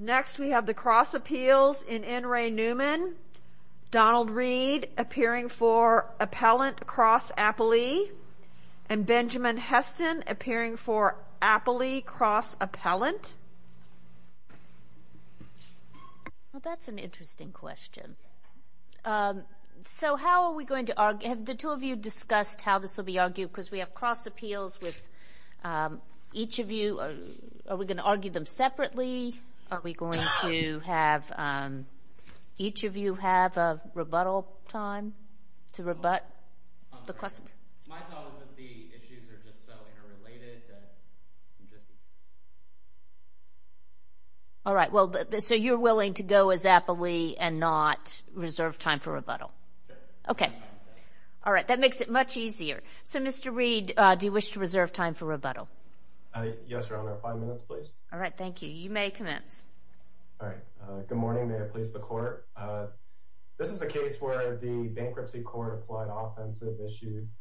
Next we have the cross appeals in N. Ray Newman. Donald Reed appearing for appellant cross appellee. And Benjamin Heston appearing for appellee cross appellant. That's an interesting question. So how are we going to argue? Have the two of you discussed how this will be argued? Because we have cross appeals with each of you. Are we going to argue them separately? Are we going to have each of you have a rebuttal time to rebut the question? My thought is that the issues are just so interrelated. All right, so you're willing to go as appellee and not reserve time for rebuttal. Okay. All right, that makes it much easier. So, Mr. Reed, do you wish to reserve time for rebuttal? Yes, Your Honor. Five minutes, please. All right, thank you. You may commence. All right. Good morning. May it please the Court. This is a case where the bankruptcy court applied offensive use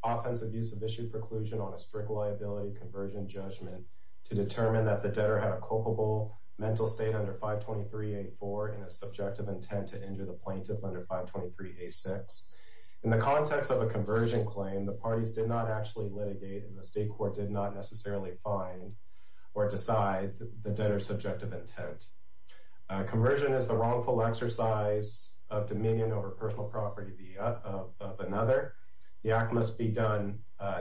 of issue preclusion on a strict liability conversion judgment to determine that the debtor had a culpable mental state under 523A4 and a subjective intent to injure the plaintiff under 523A6. In the context of a conversion claim, the parties did not actually litigate and the state court did not necessarily find or decide the debtor's subjective intent. Conversion is the wrongful exercise of dominion over personal property of another. The act must be done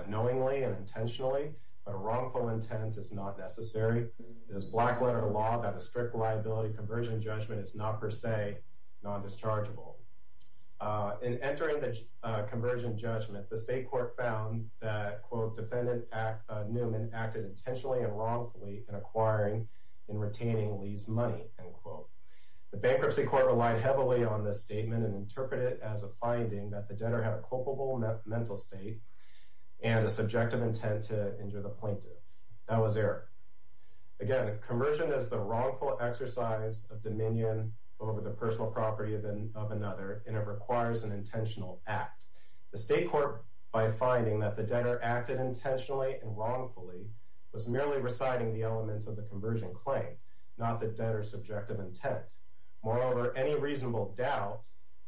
knowingly and intentionally, but a wrongful intent is not necessary. It is black-letter law that a strict liability conversion judgment is not per se non-dischargeable. In entering the conversion judgment, the state court found that, quote, defendant Newman acted intentionally and wrongfully in acquiring and retaining Lee's money, end quote. The bankruptcy court relied heavily on this statement and interpreted it as a finding that the debtor had a culpable mental state and a subjective intent to injure the plaintiff. That was error. Again, conversion is the wrongful exercise of dominion over the personal property of another and it requires an intentional act. The state court, by finding that the debtor acted intentionally and wrongfully, was merely reciting the elements of the conversion claim, not the debtor's subjective intent. Moreover, any reasonable doubt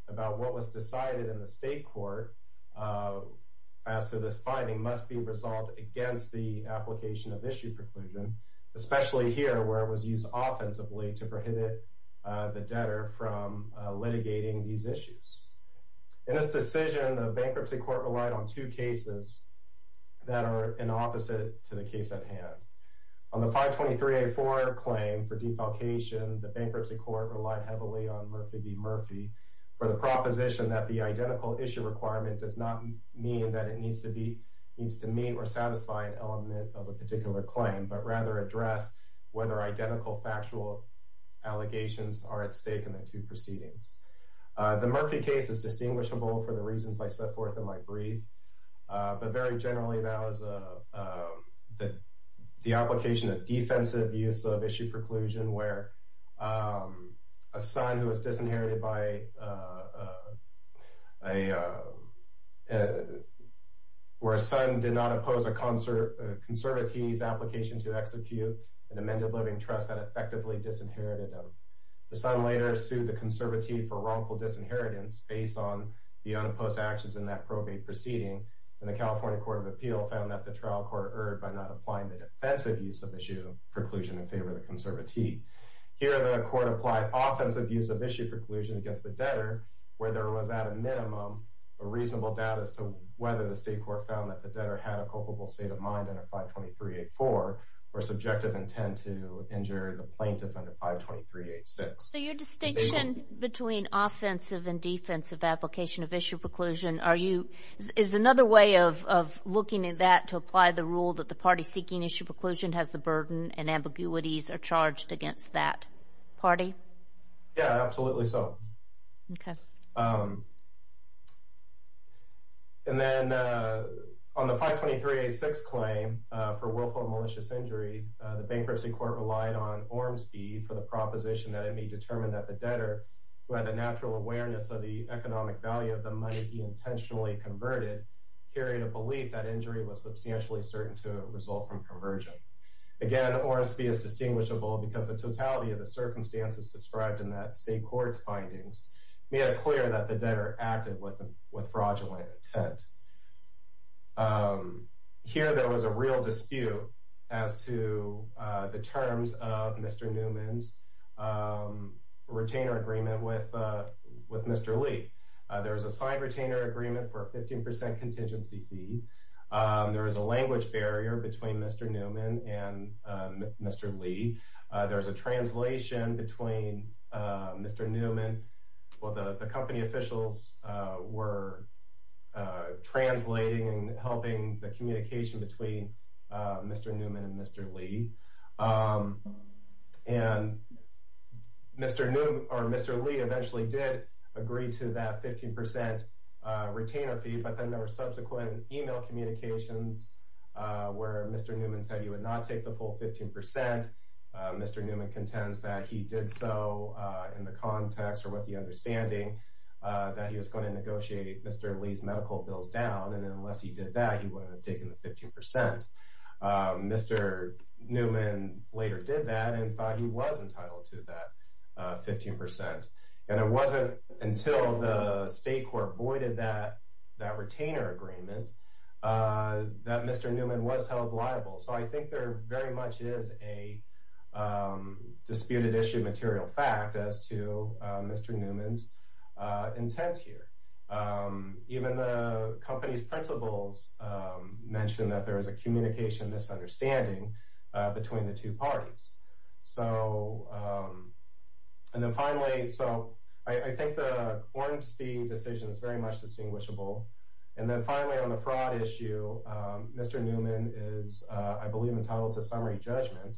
about what was decided in the state court as to this finding must be resolved against the application of issue preclusion, especially here where it was used offensively to prohibit the debtor from litigating these issues. In this decision, the bankruptcy court relied on two cases that are an opposite to the case at hand. On the 523A4 claim for defalcation, the bankruptcy court relied heavily on Murphy v. Murphy for the proposition that the identical issue requirement does not mean that it needs to meet or satisfy an element of a particular claim, but rather address whether identical factual allegations are at stake in the two proceedings. The Murphy case is distinguishable for the reasons I set forth in my brief, but very generally that was the application of defensive use of issue preclusion where a son did not oppose a conservatee's application to execute an amended living trust that effectively disinherited them. The son later sued the conservatee for wrongful disinheritance based on the unopposed actions in that probate proceeding, and the California Court of Appeal found that the trial court erred by not applying the defensive use of issue preclusion in favor of the conservatee. Here the court applied offensive use of issue preclusion against the debtor where there was at a minimum a reasonable doubt as to whether the state court found that the debtor had a culpable state of mind under 523A4 or subjective intent to injure the plaintiff under 523A6. So your distinction between offensive and defensive application of issue preclusion is another way of looking at that to apply the rule that the party seeking issue preclusion has the burden and ambiguities are charged against that party? Yeah, absolutely so. And then on the 523A6 claim for willful and malicious injury, the bankruptcy court relied on Ormsby for the proposition that it may determine that the debtor, who had a natural awareness of the economic value of the money he intentionally converted, carried a belief that injury was substantially certain to result from perversion. Again, Ormsby is distinguishable because the totality of the circumstances described in that state court's findings made it clear that the debtor acted with fraudulent intent. Here there was a real dispute as to the terms of Mr. Newman's retainer agreement with Mr. Lee. There was a signed retainer agreement for a 15% contingency fee. There was a language barrier between Mr. Newman and Mr. Lee. There was a translation between Mr. Newman. Well, the company officials were translating and helping the communication between Mr. Newman and Mr. Lee. And Mr. Lee eventually did agree to that 15% retainer fee, but then there were subsequent email communications where Mr. Newman said he would not take the full 15%. Mr. Newman contends that he did so in the context or with the understanding that he was going to negotiate Mr. Lee's medical bills down, and unless he did that, he wouldn't have taken the 15%. Mr. Newman later did that and thought he was entitled to that 15%. And it wasn't until the state court voided that retainer agreement that Mr. Newman was held liable. So I think there very much is a disputed issue material fact as to Mr. Newman's intent here. Even the company's principals mentioned that there was a communication misunderstanding between the two parties. So, and then finally, so I think the Ormsby decision is very much distinguishable. And then finally on the fraud issue, Mr. Newman is, I believe, entitled to summary judgment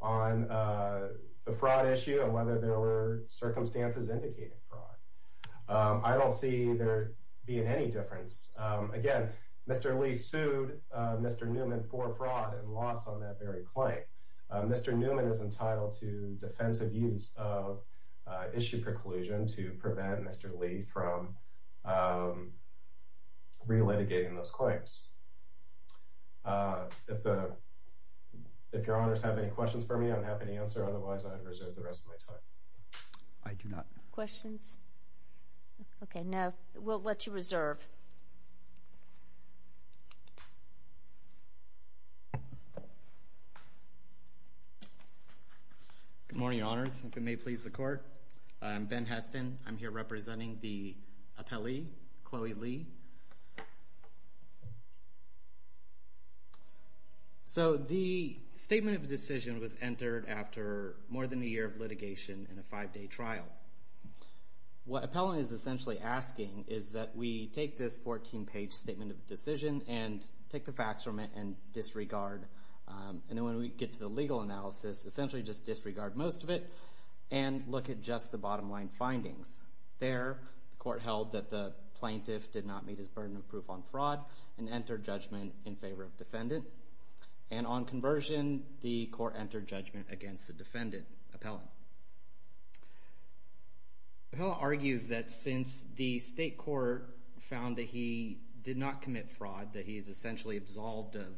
on the fraud issue and whether there were circumstances indicating fraud. I don't see there being any difference. Again, Mr. Lee sued Mr. Newman for fraud and lost on that very claim. Mr. Newman is entitled to defensive use of issue preclusion to prevent Mr. Lee from re-litigating those claims. If the, if your honors have any questions for me, I'm happy to answer. Otherwise, I would reserve the rest of my time. I do not. Questions? Okay, now we'll let you reserve. Good morning, honors, if it may please the court. I'm Ben Heston. I'm here representing the appellee, Chloe Lee. So the statement of decision was entered after more than a year of litigation and a five-day trial. What appellant is essentially asking is that we take this 14-page statement of decision and take the facts from it and disregard. And then when we get to the legal analysis, essentially just disregard most of it and look at just the bottom line findings. There, the court held that the plaintiff did not meet his burden of proof on fraud and entered judgment in favor of defendant. And on conversion, the court entered judgment against the defendant appellant. Appellant argues that since the state court found that he did not commit fraud, that he is essentially absolved of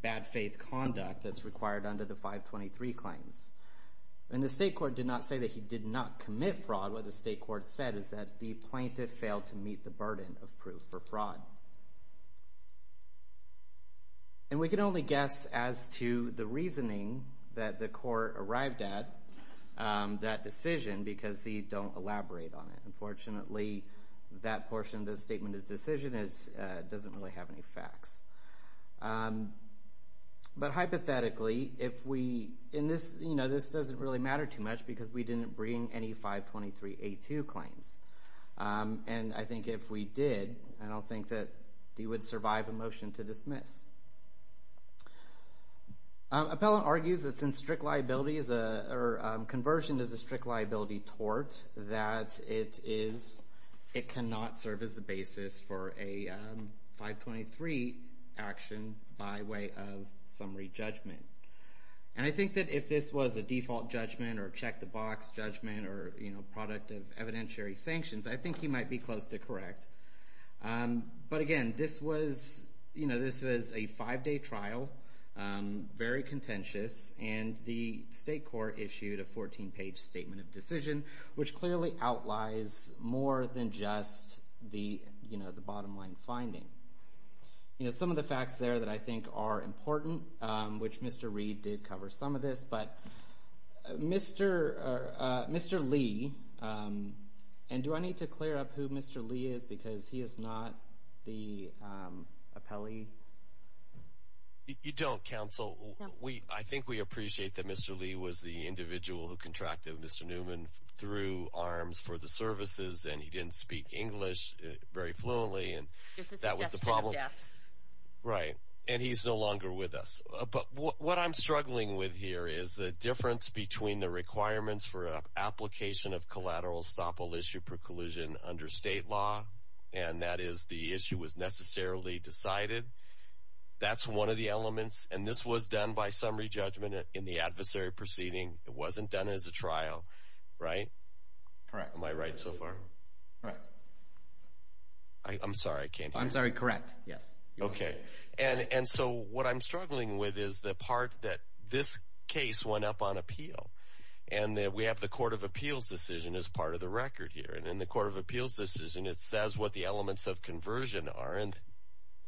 bad faith conduct that's required under the 523 claims. And the state court did not say that he did not commit fraud. What the state court said is that the plaintiff failed to meet the burden of proof for fraud. And we can only guess as to the reasoning that the court arrived at that decision because they don't elaborate on it. Unfortunately, that portion of the statement of decision doesn't really have any facts. But hypothetically, if we – and this doesn't really matter too much because we didn't bring any 523A2 claims. And I think if we did, I don't think that he would survive a motion to dismiss. Appellant argues that since strict liability is a – or conversion is a strict liability tort, that it is – it cannot serve as the basis for a 523 action by way of summary judgment. And I think that if this was a default judgment or check-the-box judgment or product of evidentiary sanctions, I think he might be close to correct. But again, this was a five-day trial, very contentious, and the state court issued a 14-page statement of decision, which clearly outlies more than just the bottom-line finding. Some of the facts there that I think are important, which Mr. Reed did cover some of this, but Mr. Lee – and do I need to clear up who Mr. Lee is because he is not the appellee? You don't, counsel. I think we appreciate that Mr. Lee was the individual who contracted Mr. Newman through arms for the services, and he didn't speak English very fluently. It's a suggestion of death. Right, and he's no longer with us. But what I'm struggling with here is the difference between the requirements for application of collateral estoppel issue per collusion under state law, and that is the issue was necessarily decided. That's one of the elements, and this was done by summary judgment in the adversary proceeding. It wasn't done as a trial, right? Am I right so far? Right. I'm sorry, I can't hear you. I'm sorry, correct, yes. Okay, and so what I'm struggling with is the part that this case went up on appeal, and that we have the court of appeals decision as part of the record here. And in the court of appeals decision, it says what the elements of conversion are, and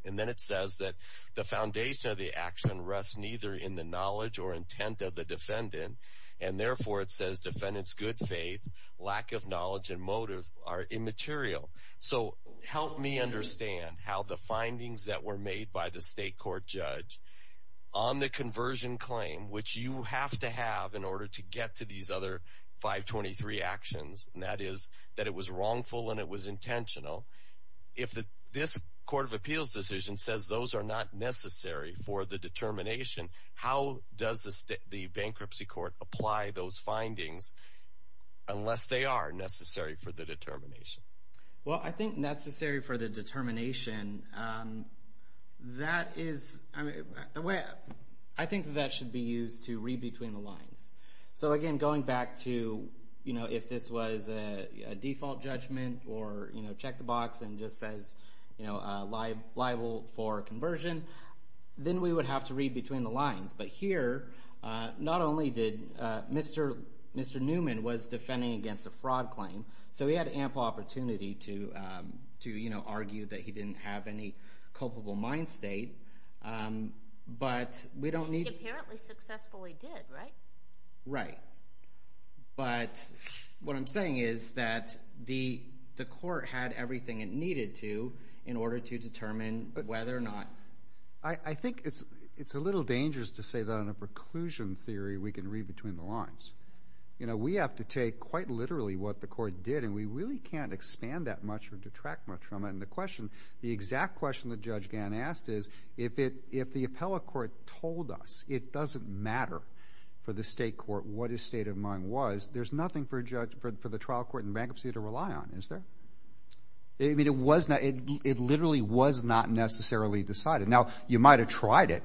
then it says that the foundation of the action rests neither in the knowledge or intent of the defendant. And therefore, it says defendant's good faith, lack of knowledge, and motive are immaterial. So help me understand how the findings that were made by the state court judge on the conversion claim, which you have to have in order to get to these other 523 actions, and that is that it was wrongful and it was intentional. If this court of appeals decision says those are not necessary for the determination, how does the bankruptcy court apply those findings unless they are necessary for the determination? Well, I think necessary for the determination, I think that should be used to read between the lines. So again, going back to if this was a default judgment or check the box and just says liable for conversion, then we would have to read between the lines. But here, not only did – Mr. Newman was defending against a fraud claim, so he had ample opportunity to argue that he didn't have any culpable mind state, but we don't need – But he apparently successfully did, right? Right. But what I'm saying is that the court had everything it needed to in order to determine whether or not – I think it's a little dangerous to say that on a preclusion theory we can read between the lines. We have to take quite literally what the court did, and we really can't expand that much or detract much from it. And the question – the exact question that Judge Gann asked is if the appellate court told us it doesn't matter for the state court what his state of mind was, there's nothing for the trial court and bankruptcy to rely on, is there? I mean, it was – it literally was not necessarily decided. Now, you might have tried it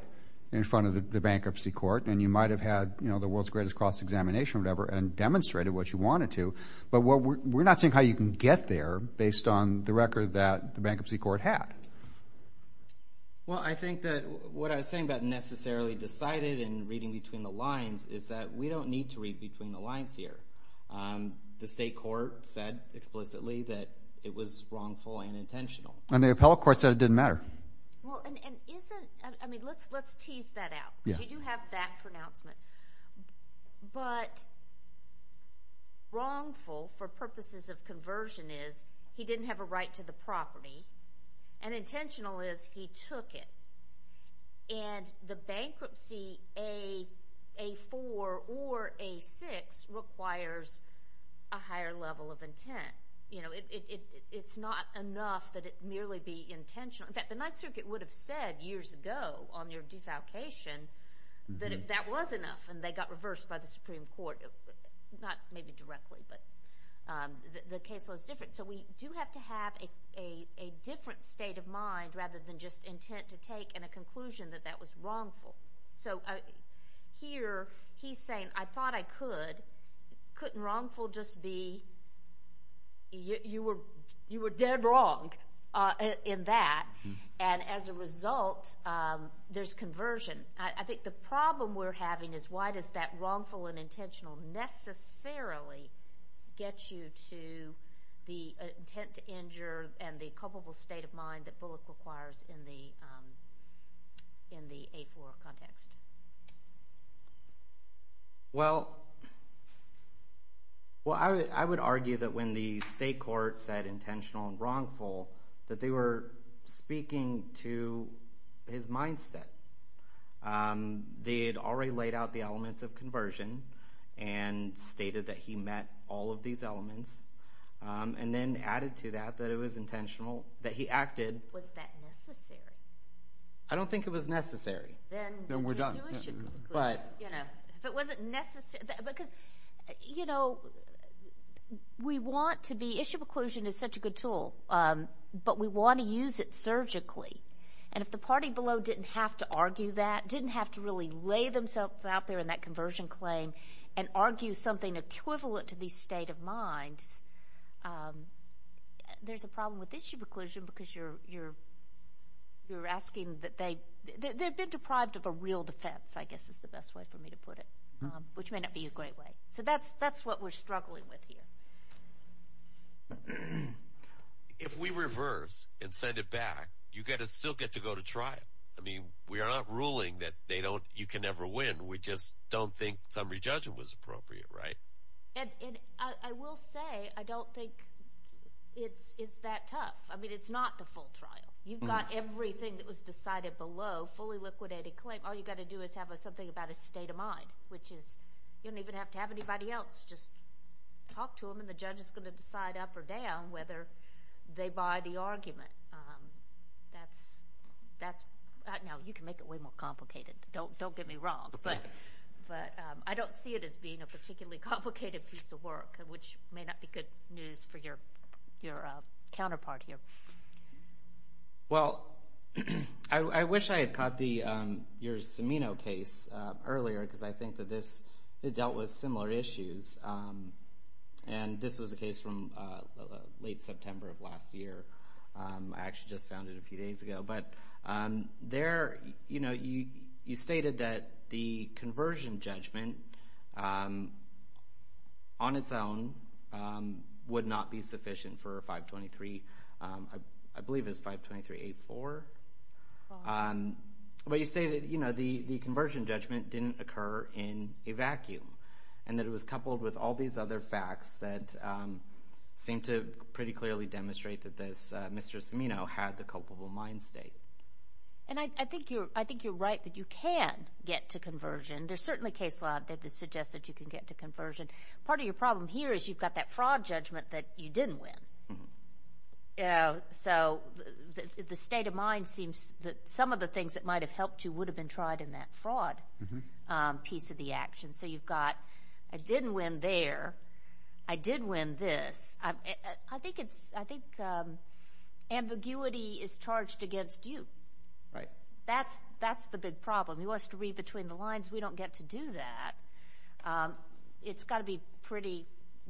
in front of the bankruptcy court, and you might have had the world's greatest cross-examination or whatever and demonstrated what you wanted to. But we're not saying how you can get there based on the record that the bankruptcy court had. Well, I think that what I was saying about necessarily decided and reading between the lines is that we don't need to read between the lines here. The state court said explicitly that it was wrongful and intentional. And the appellate court said it didn't matter. Well, and isn't – I mean, let's tease that out because you do have that pronouncement. But wrongful for purposes of conversion is he didn't have a right to the property, and intentional is he took it. And the bankruptcy, A4 or A6, requires a higher level of intent. It's not enough that it merely be intentional. The Ninth Circuit would have said years ago on your defalcation that that was enough, and they got reversed by the Supreme Court. Not maybe directly, but the case was different. So we do have to have a different state of mind rather than just intent to take and a conclusion that that was wrongful. So here he's saying, I thought I could. Couldn't wrongful just be you were dead wrong in that? And as a result, there's conversion. I think the problem we're having is why does that wrongful and intentional necessarily get you to the intent to injure and the culpable state of mind that Bullock requires in the A4 context? Well, I would argue that when the state court said intentional and wrongful, that they were speaking to his mindset. They had already laid out the elements of conversion and stated that he met all of these elements, and then added to that that it was intentional, that he acted. Was that necessary? I don't think it was necessary. Then we're done. If it wasn't necessary, because, you know, we want to be, issue preclusion is such a good tool, but we want to use it surgically. And if the party below didn't have to argue that, didn't have to really lay themselves out there in that conversion claim and argue something equivalent to the state of mind, there's a problem with issue preclusion, because you're asking that they've been deprived of a real defense, I guess is the best way for me to put it, which may not be a great way. So that's what we're struggling with here. If we reverse and send it back, you still get to go to trial. I mean, we are not ruling that you can never win. We just don't think summary judgment was appropriate, right? And I will say, I don't think it's that tough. I mean, it's not the full trial. You've got everything that was decided below, fully liquidated claim. All you've got to do is have something about a state of mind, which is you don't even have to have anybody else. Just talk to them, and the judge is going to decide up or down whether they buy the argument. Now, you can make it way more complicated. Don't get me wrong, but I don't see it as being a particularly complicated piece of work, which may not be good news for your counterpart here. Well, I wish I had caught your Cimino case earlier, because I think that this dealt with similar issues. And this was a case from late September of last year. I actually just found it a few days ago. But there, you stated that the conversion judgment on its own would not be sufficient for 523. I believe it's 523.84. But you stated the conversion judgment didn't occur in a vacuum and that it was coupled with all these other facts that seem to pretty clearly demonstrate that Mr. Cimino had the culpable mind state. And I think you're right that you can get to conversion. There's certainly case law that suggests that you can get to conversion. Part of your problem here is you've got that fraud judgment that you didn't win. So the state of mind seems that some of the things that might have helped you would have been tried in that fraud piece of the action. You've got, I didn't win there. I did win this. I think ambiguity is charged against you. That's the big problem. He wants to read between the lines. We don't get to do that. It's got to be pretty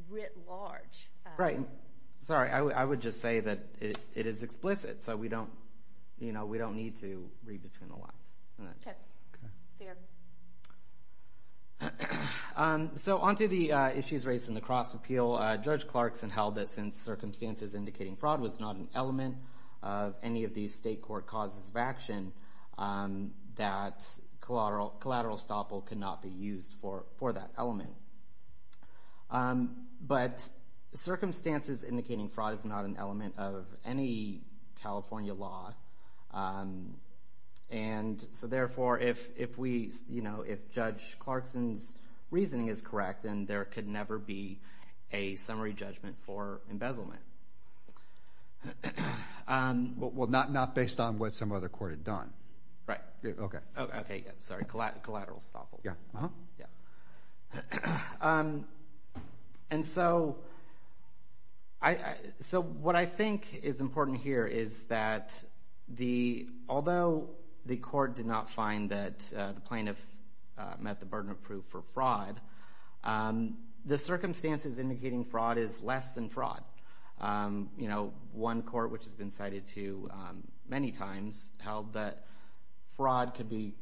writ large. Right. Sorry. I would just say that it is explicit, so we don't need to read between the lines. Fair. So onto the issues raised in the cross appeal. Judge Clarkson held that since circumstances indicating fraud was not an element of any of these state court causes of action, that collateral estoppel could not be used for that element. But circumstances indicating fraud is not an element of any California law. And so therefore, if Judge Clarkson's reasoning is correct, then there could never be a summary judgment for embezzlement. Well, not based on what some other court had done. Right. Okay. Sorry. Collateral estoppel. Yeah. And so what I think is important here is that although the court did not find that the plaintiff met the burden of proof for fraud, the circumstances indicating fraud is less than fraud. One court, which has been cited to many times, held that fraud could be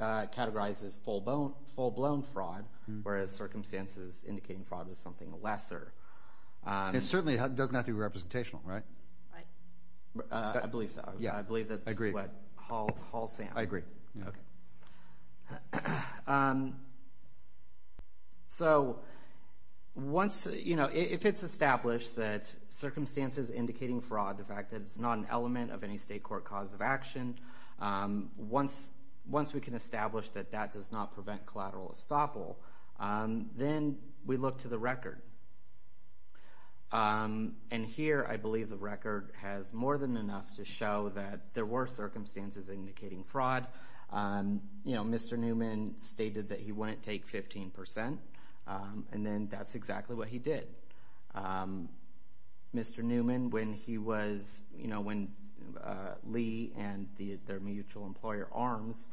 categorized as full-blown fraud, whereas circumstances indicating fraud is something lesser. And certainly it doesn't have to be representational, right? I believe so. Yeah. I believe that's what Hall said. I agree. Okay. So once, you know, if it's established that circumstances indicating fraud, the fact that it's not an element of any state court cause of action, once we can establish that that does not prevent collateral estoppel, then we look to the record. And here I believe the record has more than enough to show that there were circumstances indicating fraud, you know, Mr. Newman stated that he wouldn't take 15%, and then that's exactly what he did. Mr. Newman, when he was, you know, when Lee and their mutual employer, Arms,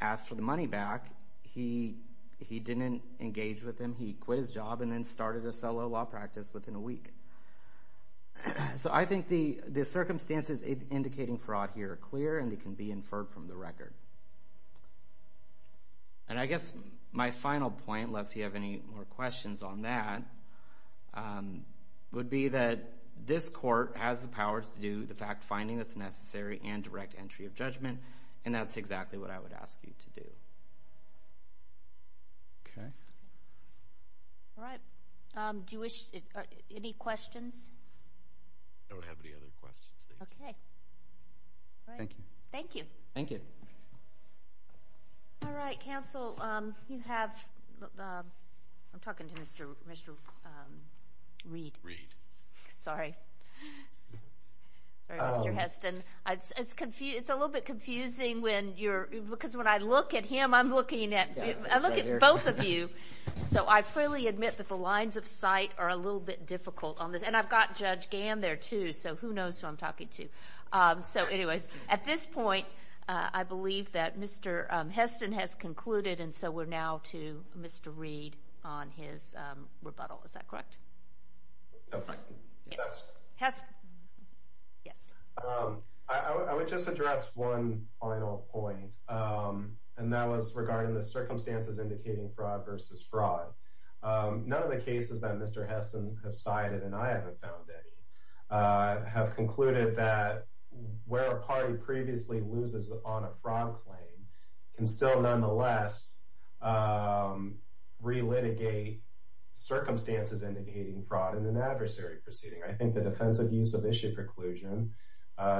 asked for the money back, he didn't engage with them. He quit his job and then started a solo law practice within a week. So I think the circumstances indicating fraud here are clear, and they can be inferred from the record. And I guess my final point, unless you have any more questions on that, would be that this court has the power to do the fact finding that's necessary and direct entry of judgment, and that's exactly what I would ask you to do. Okay. All right. Thank you. Do you wish, any questions? I don't have any other questions. Okay. Thank you. Thank you. Thank you. All right. Counsel, you have, I'm talking to Mr. Reed. Reed. Sorry. Mr. Heston, it's a little bit confusing when you're, because when I look at him, I'm looking at both of you. So I fully admit that the lines of sight are a little bit difficult on this, and I've got Judge Gamm there, too, so who knows who I'm talking to. So anyways, at this point, I believe that Mr. Heston has concluded, and so we're now to Mr. Reed on his rebuttal. Is that correct? Yes. Heston. Yes. I would just address one final point, and that was regarding the circumstances indicating fraud versus fraud. None of the cases that Mr. Heston has cited, and I haven't found any, have concluded that where a party previously loses on a fraud claim can still nonetheless relitigate circumstances indicating fraud in an adversary proceeding. I think the defensive use of issue preclusion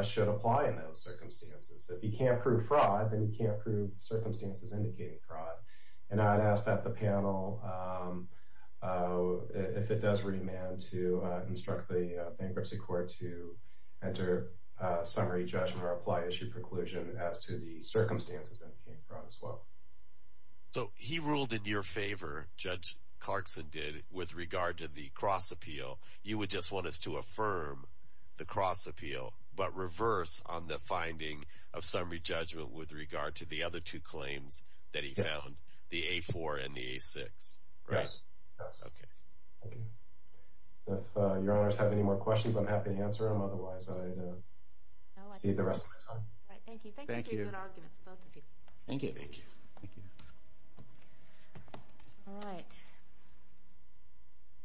should apply in those circumstances. If you can't prove fraud, then you can't prove circumstances indicating fraud. And I'd ask that the panel, if it does remain, to instruct the bankruptcy court to enter summary judgment or apply issue preclusion as to the circumstances indicating fraud as well. So he ruled in your favor, Judge Clarkson did, with regard to the cross appeal. You would just want us to affirm the cross appeal, but reverse on the finding of summary judgment with regard to the other two claims that he found, the A4 and the A6, right? Yes. Okay. Thank you. If your honors have any more questions, I'm happy to answer them. Otherwise, I'd save the rest of my time. Thank you. Thank you for your good arguments, both of you. Thank you. Thank you. Thank you. All right.